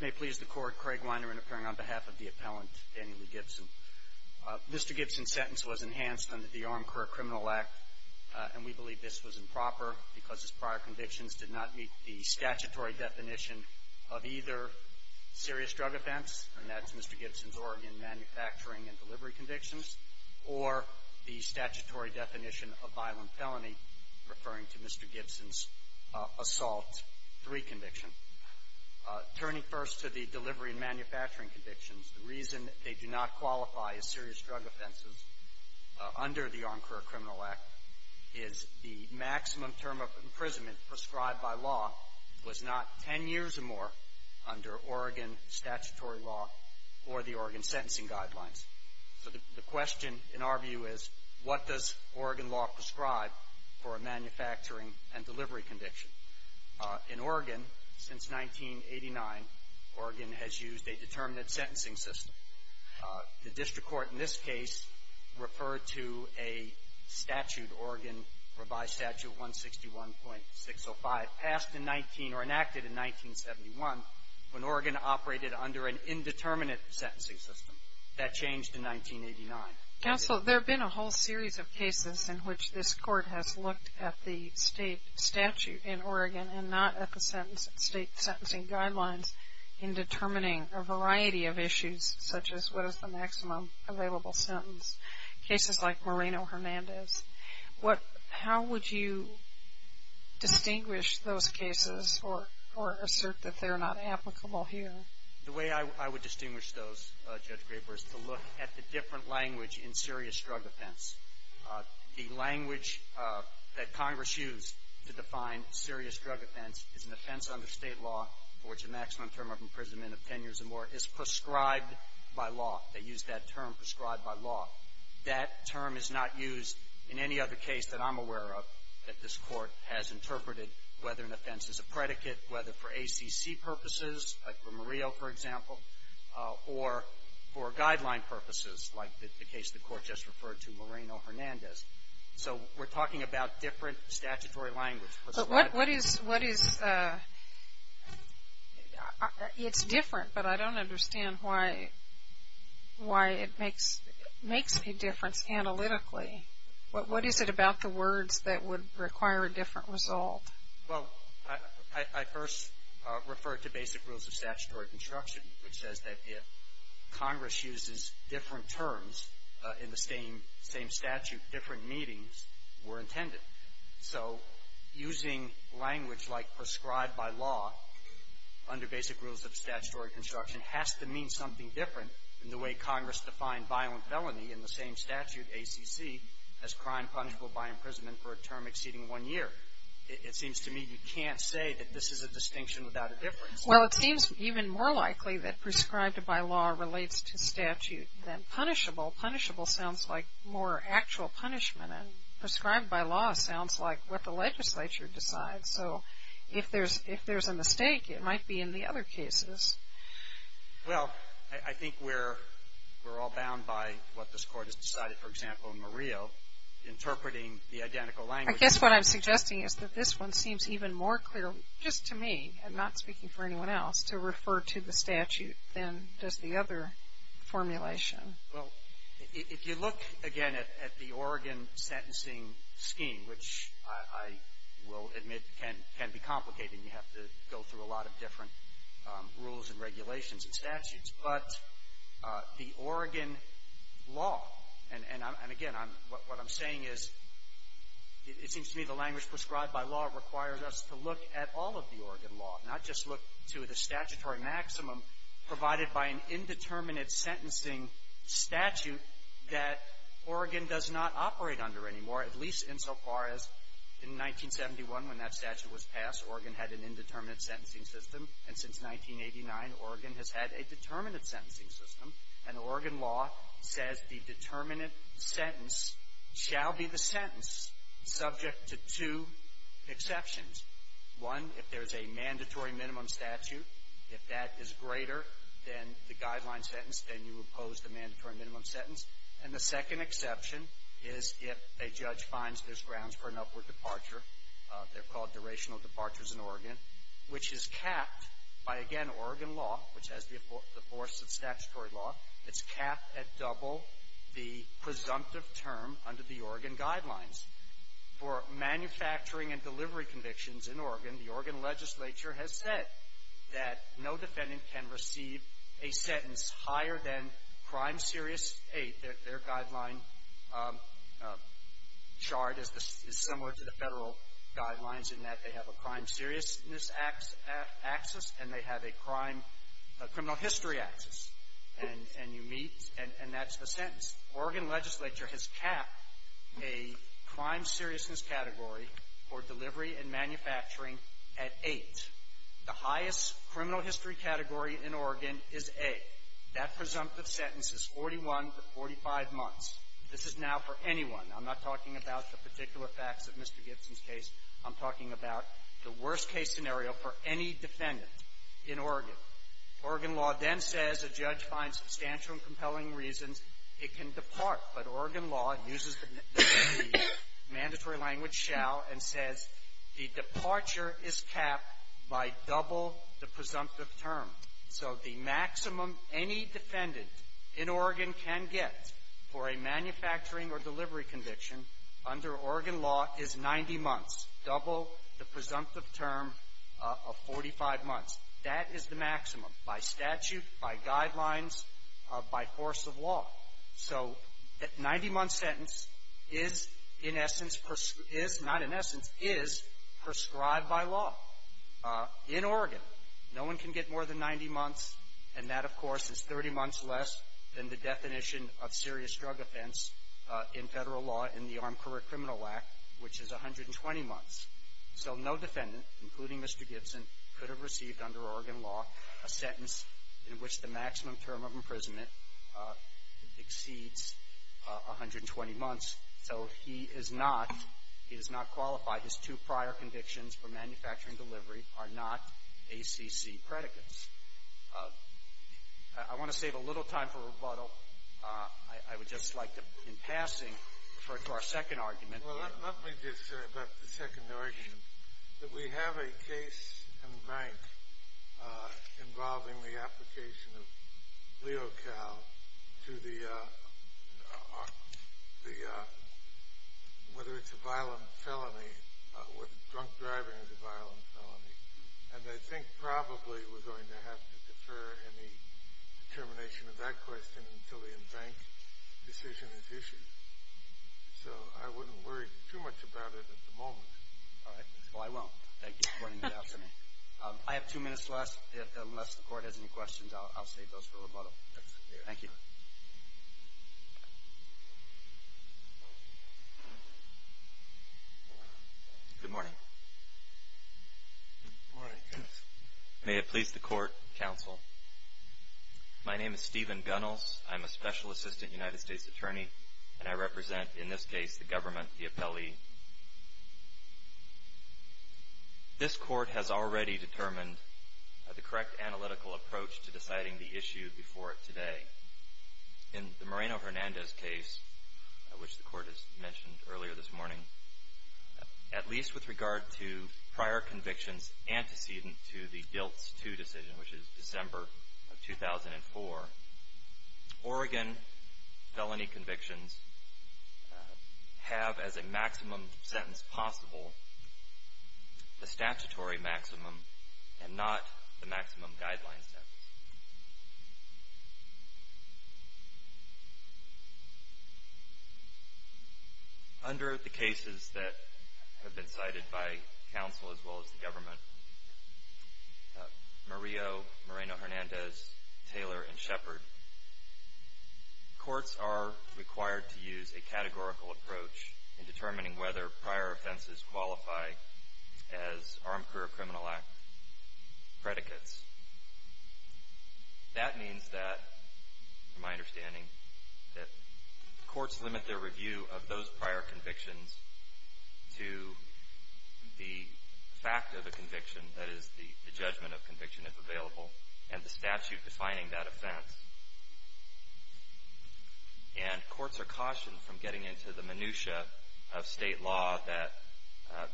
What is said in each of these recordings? May please the court, Craig Weiner interfering on behalf of the appellant, Daniel E. Gibson. Mr. Gibson's sentence was enhanced under the Armed Career Criminal Act and we believe this was improper because his prior convictions did not meet the statutory definition of either serious drug offense, and that's Mr. Gibson's Oregon manufacturing and delivery convictions, or the statutory definition of violent felony, referring to Mr. Gibson's assault three conviction. Turning first to the delivery and manufacturing convictions, the reason they do not qualify as serious drug offenses under the Armed Career Criminal Act is the maximum term of imprisonment prescribed by law was not 10 years or more under Oregon statutory law or the Oregon sentencing guidelines. So the question, in our view, is what does Oregon law prescribe for a manufacturing and delivery conviction? In Oregon, since 1989, Oregon has used a determinate sentencing system. The district court in this case referred to a statute, Oregon Revised Statute 161.605, passed in 19 or enacted in 1971 when Oregon operated under an indeterminate sentencing system. That changed in 1989. Counsel, there have been a whole series of cases in which this court has looked at the state statute in Oregon and not at the state sentencing guidelines in determining a variety of issues, such as what is the maximum available sentence, cases like Moreno-Hernandez. How would you distinguish those cases or assert that they're not applicable here? The way I would distinguish those, Judge Graber, is to look at the different language in serious drug offense. The language that Congress used to define serious drug offense is an offense under state law for which the maximum term of imprisonment of 10 years or more is prescribed by law. They use that term, prescribed by law. That term is not used in any other case that I'm aware of that this court has interpreted, whether an offense is a predicate, whether for ACC purposes, like for Murillo, for example, or for guideline purposes, like the case the court just referred to, Moreno-Hernandez. So we're talking about different statutory language. But what is, it's different, but I don't understand why it makes a difference analytically. What is it about the words that would require a different result? Well, I first referred to basic rules of statutory construction, which says that if Congress uses different terms in the same statute, different meetings were intended. So using language like prescribed by law under basic rules of statutory construction has to mean something different than the way Congress defined violent felony in the same statute, ACC, as crime punishable by imprisonment for a term exceeding one year. It seems to me you can't say that this is a distinction without a difference. Well, it seems even more likely that prescribed by law relates to statute than punishable. Punishable sounds like more actual punishment, and prescribed by law sounds like what the legislature decides. So if there's a mistake, it might be in the other cases. Well, I think we're all bound by what this court has decided. For example, Murillo, interpreting the identical language. I guess what I'm suggesting is that this one seems even more clear, just to me, I'm not speaking for anyone else, to refer to the statute than does the other formulation. Well, if you look, again, at the Oregon sentencing scheme, which I will admit can be complicated. You have to go through a lot of different rules and regulations and statutes. But the Oregon law, and again, what I'm saying is it seems to me the language prescribed by law requires us to look at all of the Oregon law, not just look to the statutory maximum provided by an indeterminate sentencing statute that Oregon does not operate under anymore, at least insofar as in 1971, when that statute was passed, Oregon had an indeterminate sentencing system. And since 1989, Oregon has had a determinate sentencing system. And the Oregon law says the determinate sentence shall be the sentence subject to two exceptions. One, if there's a mandatory minimum statute, if that is greater than the guideline sentence, then you oppose the mandatory minimum sentence. And the second exception is if a judge finds there's grounds for an upward departure. They're called durational departures in Oregon, which is capped by, again, Oregon law, which has the force of statutory law. It's capped at double the presumptive term under the Oregon guidelines. For manufacturing and delivery convictions in Oregon, the Oregon legislature has said that no defendant can receive a sentence higher than Crime Serious 8. Their guideline chart is similar to the federal guidelines in that they have a Crime Seriousness axis and they have a Crime – Criminal History axis. Oregon legislature has capped a Crime Seriousness category for delivery and manufacturing at 8. The highest criminal history category in Oregon is A. That presumptive sentence is 41 to 45 months. This is now for anyone. I'm not talking about the particular facts of Mr. Gibson's case. I'm talking about the worst-case scenario for any defendant in Oregon. Oregon law then says a judge finds substantial and compelling reasons. It can depart. But Oregon law uses the mandatory language shall and says the departure is capped by double the presumptive term. So the maximum any defendant in Oregon can get for a manufacturing or delivery conviction under Oregon law is 90 months, double the presumptive term of 45 months. That is the maximum by statute, by guidelines, by force of law. So that 90-month sentence is in essence – is not in essence – is prescribed by law. In Oregon, no one can get more than 90 months, and that, of course, is 30 months less than the definition of serious drug offense in federal law in the Armed Career Criminal Act, which is 120 months. So no defendant, including Mr. Gibson, could have received under Oregon law a sentence in which the maximum term of imprisonment exceeds 120 months. So he is not – he does not qualify. His two prior convictions for manufacturing delivery are not ACC predicates. I want to save a little time for rebuttal. I would just like to, in passing, refer to our second argument. Well, let me just say about the second argument that we have a case in the bank involving the application of Leocal to the – whether it's a violent felony, whether drunk driving is a violent felony. And I think probably we're going to have to defer any determination of that question until a bank decision is issued. So I wouldn't worry too much about it at the moment. All right. Well, I won't. Thank you for pointing that out to me. I have two minutes left. Unless the Court has any questions, I'll save those for rebuttal. Thank you. Good morning. Good morning, counsel. May it please the Court, counsel, my name is Stephen Gunnels. I'm a Special Assistant United States Attorney, and I represent, in this case, the government, the appellee. This Court has already determined the correct analytical approach to deciding the issue before today. In the Moreno-Hernandez case, which the Court has mentioned earlier this morning, at least with regard to prior convictions antecedent to the DILTS II decision, which is December of 2004, Oregon felony convictions have as a maximum sentence possible a statutory maximum and not the maximum guideline sentence. Under the cases that have been cited by counsel as well as the government, Murillo, Moreno-Hernandez, Taylor, and Shepard, courts are required to use a categorical approach in determining whether prior offenses qualify as Armed Career Criminal Act predicates. That means that, from my understanding, that courts limit their review of those prior convictions to the fact of a conviction, that is, the judgment of conviction, if available, and the statute defining that offense. And courts are cautioned from getting into the minutia of State law that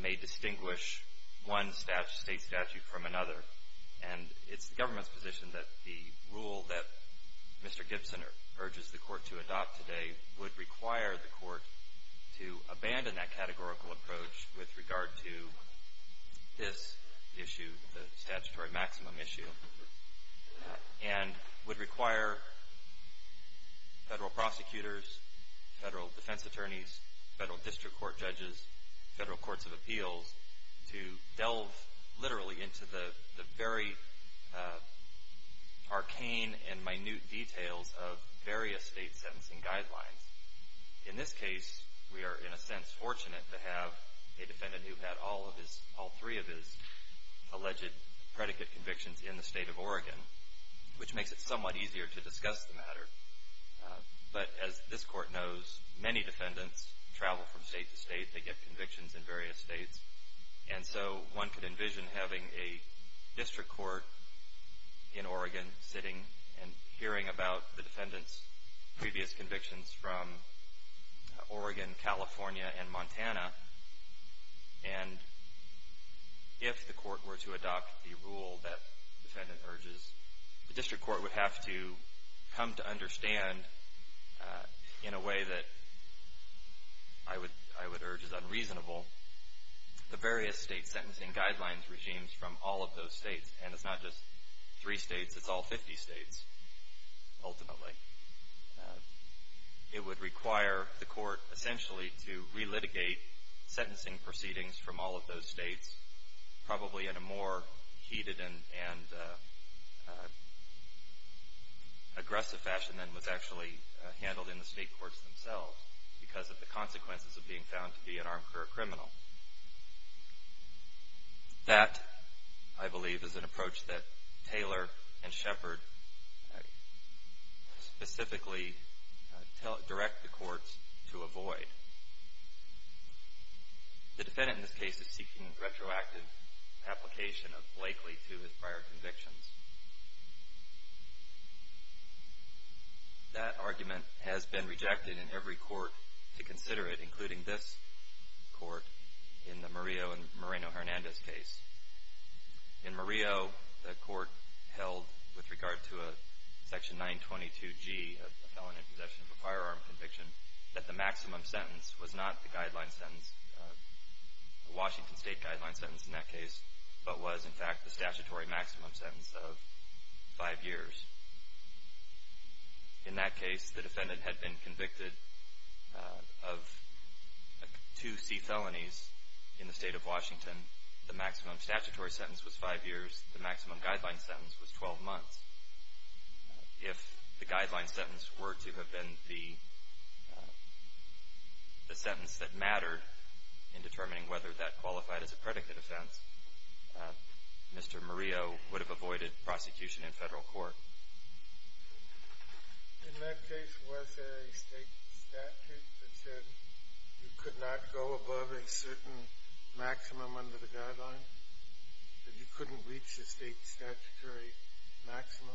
may distinguish one State statute from another. And it's the government's position that the rule that Mr. Gibson urges the Court to adopt today would require the Court to abandon that categorical approach with regard to this issue, the statutory maximum issue, and would require Federal prosecutors, Federal defense attorneys, Federal district court judges, Federal courts of appeals, to delve literally into the very arcane and minute details of various State sentencing guidelines. In this case, we are, in a sense, fortunate to have a defendant who had all three of his alleged predicate convictions in the State of Oregon, which makes it somewhat easier to discuss the matter. But, as this Court knows, many defendants travel from State to State. They get convictions in various States. And so one could envision having a district court in Oregon sitting and hearing about the defendant's previous convictions from Oregon, California, and Montana. And if the Court were to adopt the rule that the defendant urges, the district court would have to come to understand, in a way that I would urge is unreasonable, the various State sentencing guidelines regimes from all of those States. And it's not just three States, it's all 50 States, ultimately. It would require the Court, essentially, to relitigate sentencing proceedings from all of those States, probably in a more heated and aggressive fashion than was actually handled in the State courts themselves, because of the consequences of being found to be an armed career criminal. That, I believe, is an approach that Taylor and Shepard specifically direct the courts to avoid. The defendant, in this case, is seeking retroactive application of Blakeley to his prior convictions. That argument has been rejected in every court to consider it, including this court in the Murillo and Moreno-Hernandez case. In Murillo, the court held, with regard to a Section 922G, a felon in possession of a firearm conviction, that the maximum sentence was not the guideline sentence, the Washington State guideline sentence in that case, but was, in fact, the statutory maximum sentence of five years. In that case, the defendant had been convicted of two C felonies in the State of Washington. The maximum statutory sentence was five years, the maximum guideline sentence was 12 months. If the guideline sentence were to have been the sentence that mattered in determining whether that qualified as a predicate offense, Mr. Murillo would have avoided prosecution in federal court. In that case, was there a State statute that said you could not go above a certain maximum under the guideline, that you couldn't reach the State statutory maximum?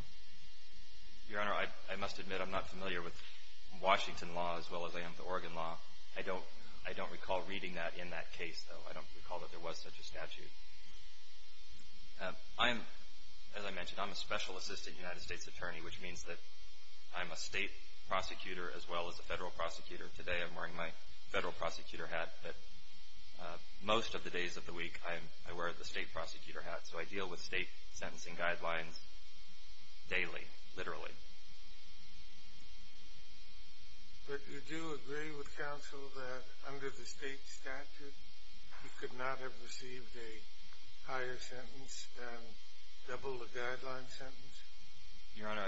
Your Honor, I must admit I'm not familiar with Washington law as well as I am with Oregon law. I don't recall reading that in that case, though. I don't recall that there was such a statute. I am, as I mentioned, I'm a special assistant United States attorney, which means that I'm a State prosecutor as well as a federal prosecutor. Today I'm wearing my federal prosecutor hat, but most of the days of the week I wear the State prosecutor hat, so I deal with State sentencing guidelines daily, literally. But you do agree with counsel that under the State statute, you could not have received a higher sentence than double the guideline sentence? Your Honor,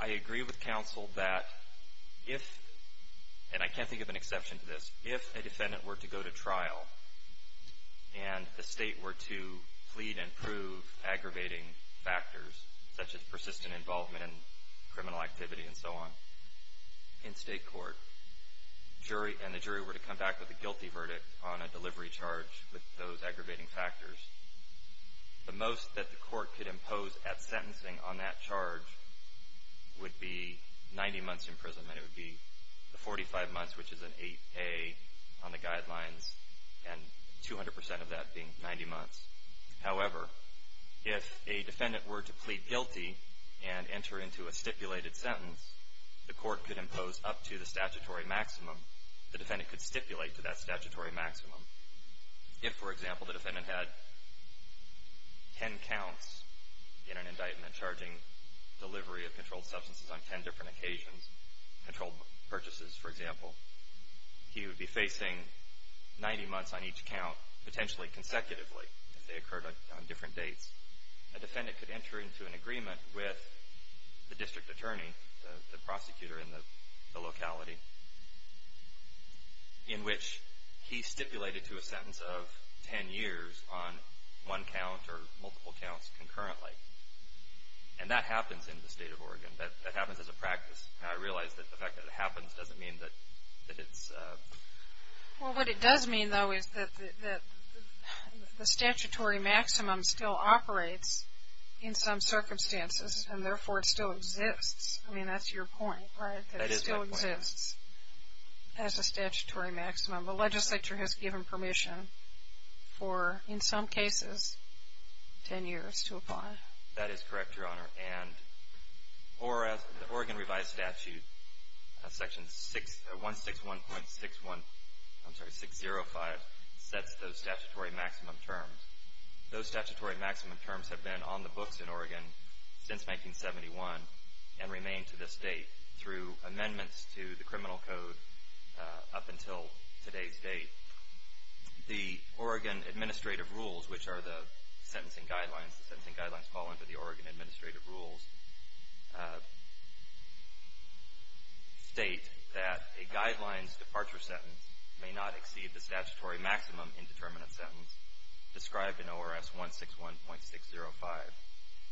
I agree with counsel that if, and I can't think of an exception to this, if a defendant were to go to trial and the State were to plead and prove aggravating factors, such as persistent involvement in criminal activity and so on, in State court, and the jury were to come back with a guilty verdict on a delivery charge with those aggravating factors, the most that the court could impose at sentencing on that charge would be 90 months' imprisonment. It would be the 45 months, which is an 8A on the guidelines, and 200 percent of that being 90 months. However, if a defendant were to plead guilty and enter into a stipulated sentence, the court could impose up to the statutory maximum. The defendant could stipulate to that statutory maximum. If, for example, the defendant had 10 counts in an indictment charging delivery of controlled substances on 10 different occasions, controlled purchases, for example, he would be facing 90 months on each count, potentially consecutively, if they occurred on different dates. A defendant could enter into an agreement with the district attorney, the prosecutor in the locality, in which he stipulated to a sentence of 10 years on one count or multiple counts concurrently. And that happens in the State of Oregon. That happens as a practice. Now, I realize that the fact that it happens doesn't mean that it's... Well, what it does mean, though, is that the statutory maximum still operates in some circumstances, and therefore it still exists. I mean, that's your point, right? That is my point. It still exists as a statutory maximum. The legislature has given permission for, in some cases, 10 years to apply. That is correct, Your Honor. And the Oregon Revised Statute, Section 161.605, sets those statutory maximum terms. Those statutory maximum terms have been on the books in Oregon since 1971 and remain to this date through amendments to the criminal code up until today's date. The Oregon Administrative Rules, which are the sentencing guidelines, the sentencing guidelines fall under the Oregon Administrative Rules, state that a guidelines departure sentence may not exceed the statutory maximum indeterminate sentence described in ORS 161.605.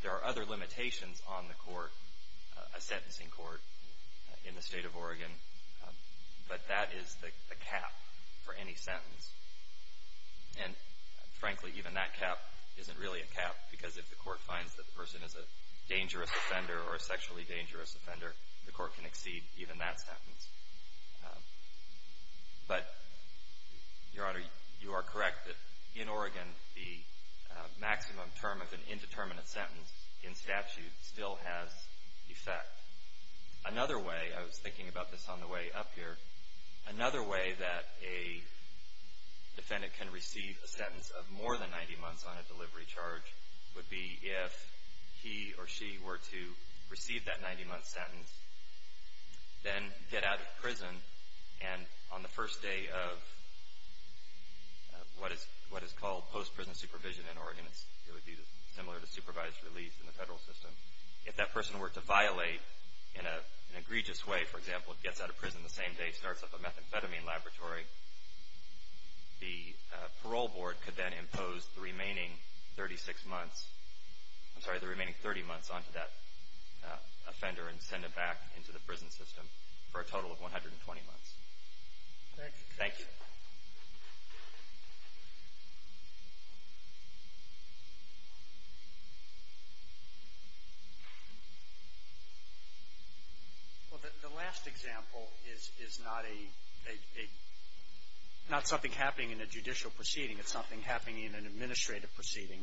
There are other limitations on the court, a sentencing court in the state of Oregon, but that is the cap for any sentence. And, frankly, even that cap isn't really a cap because if the court finds that the person is a dangerous offender or a sexually dangerous offender, the court can exceed even that sentence. But, Your Honor, you are correct that in Oregon, the maximum term of an indeterminate sentence in statute still has effect. Another way, I was thinking about this on the way up here, another way that a defendant can receive a sentence of more than 90 months on a delivery charge would be if he or she were to receive that 90-month sentence, then get out of prison, and on the first day of what is called post-prison supervision in Oregon, it would be similar to supervised release in the federal system, if that person were to violate in an egregious way, for example, gets out of prison the same day he starts up a methamphetamine laboratory, the parole board could then impose the remaining 36 months, I'm sorry, the remaining 30 months onto that offender and send him back into the prison system for a total of 120 months. Thank you. Thank you. Well, the last example is not a, not something happening in a judicial proceeding. It's something happening in an administrative proceeding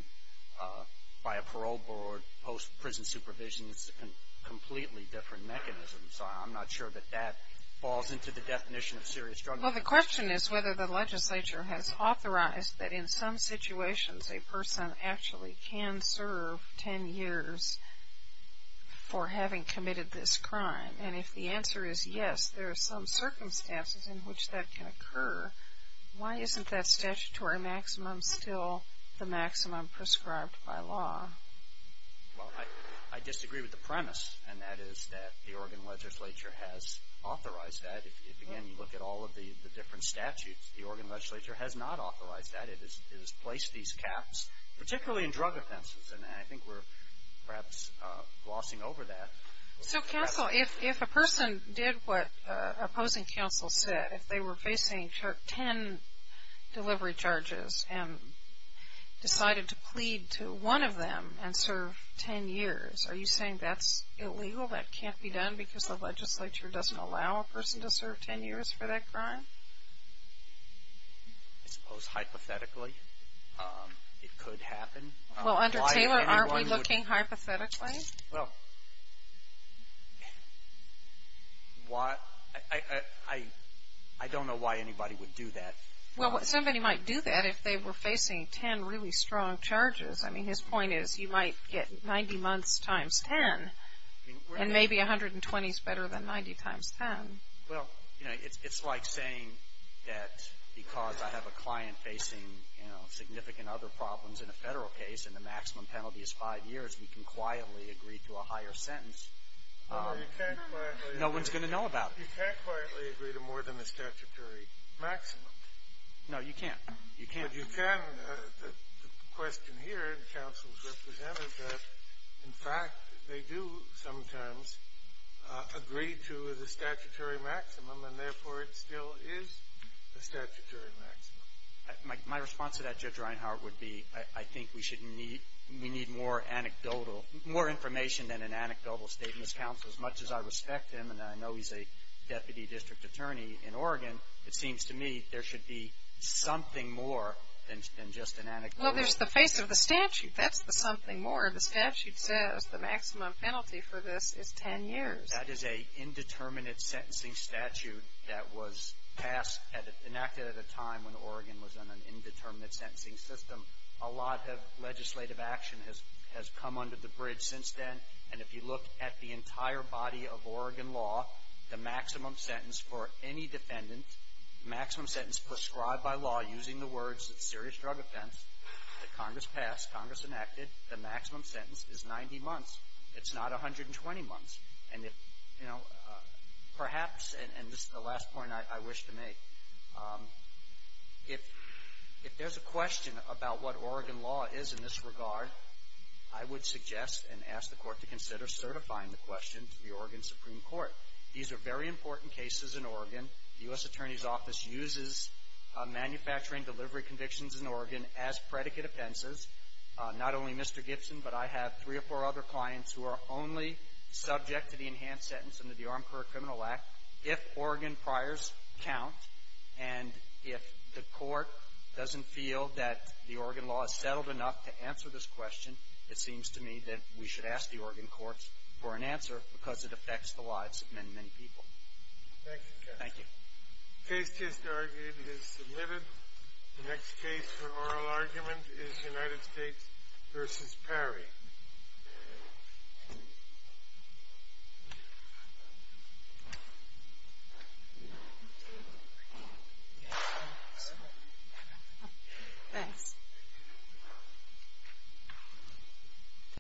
by a parole board, post-prison supervision, it's a completely different mechanism. So I'm not sure that that falls into the definition of serious drug abuse. Well, the question is whether the legislature has authorized that in some situations a person actually can serve 10 years for having committed this crime. And if the answer is yes, there are some circumstances in which that can occur. Why isn't that statutory maximum still the maximum prescribed by law? Well, I disagree with the premise, and that is that the Oregon legislature has authorized that. If, again, you look at all of the different statutes, the Oregon legislature has not authorized that. It has placed these caps, particularly in drug offenses, and I think we're perhaps glossing over that. So counsel, if a person did what opposing counsel said, if they were facing 10 delivery charges and decided to plead to one of them and serve 10 years, are you saying that's illegal, that can't be done because the legislature doesn't allow a person to serve 10 years for that crime? I suppose hypothetically it could happen. Well, under Taylor, aren't we looking hypothetically? Well, I don't know why anybody would do that. Well, somebody might do that if they were facing 10 really strong charges. I mean, his point is you might get 90 months times 10, and maybe 120 is better than 90 times 10. Well, you know, it's like saying that because I have a client facing, you know, significant other problems in a federal case and the maximum penalty is five years, we can quietly agree to a higher sentence. No one's going to know about it. You can't quietly agree to more than the statutory maximum. No, you can't. But you can, the question here, counsel's representative, in fact, they do sometimes agree to the statutory maximum, and therefore it still is a statutory maximum. My response to that, Judge Reinhart, would be I think we need more anecdotal, more information than an anecdotal statement. Counsel, as much as I respect him, and I know he's a deputy district attorney in Oregon, it seems to me there should be something more than just an anecdotal. Well, there's the face of the statute. That's the something more. The statute says the maximum penalty for this is 10 years. That is an indeterminate sentencing statute that was enacted at a time when Oregon was in an indeterminate sentencing system. A lot of legislative action has come under the bridge since then, and if you look at the entire body of Oregon law, the maximum sentence for any defendant, the maximum sentence prescribed by law using the words it's a serious drug offense, that Congress passed, Congress enacted, the maximum sentence is 90 months. It's not 120 months. And, you know, perhaps, and this is the last point I wish to make, if there's a question about what Oregon law is in this regard, I would suggest and ask the Court to consider certifying the question to the Oregon Supreme Court. These are very important cases in Oregon. The U.S. Attorney's Office uses manufacturing delivery convictions in Oregon as predicate offenses. Not only Mr. Gibson, but I have three or four other clients who are only subject to the enhanced sentence under the Armed Career Criminal Act if Oregon priors count. And if the Court doesn't feel that the Oregon law is settled enough to answer this question, it seems to me that we should ask the Oregon courts for an answer because it affects the lives of many, many people. Thank you, Justice. Thank you. The case just argued is submitted. The next case for oral argument is United States v. Perry. Thanks.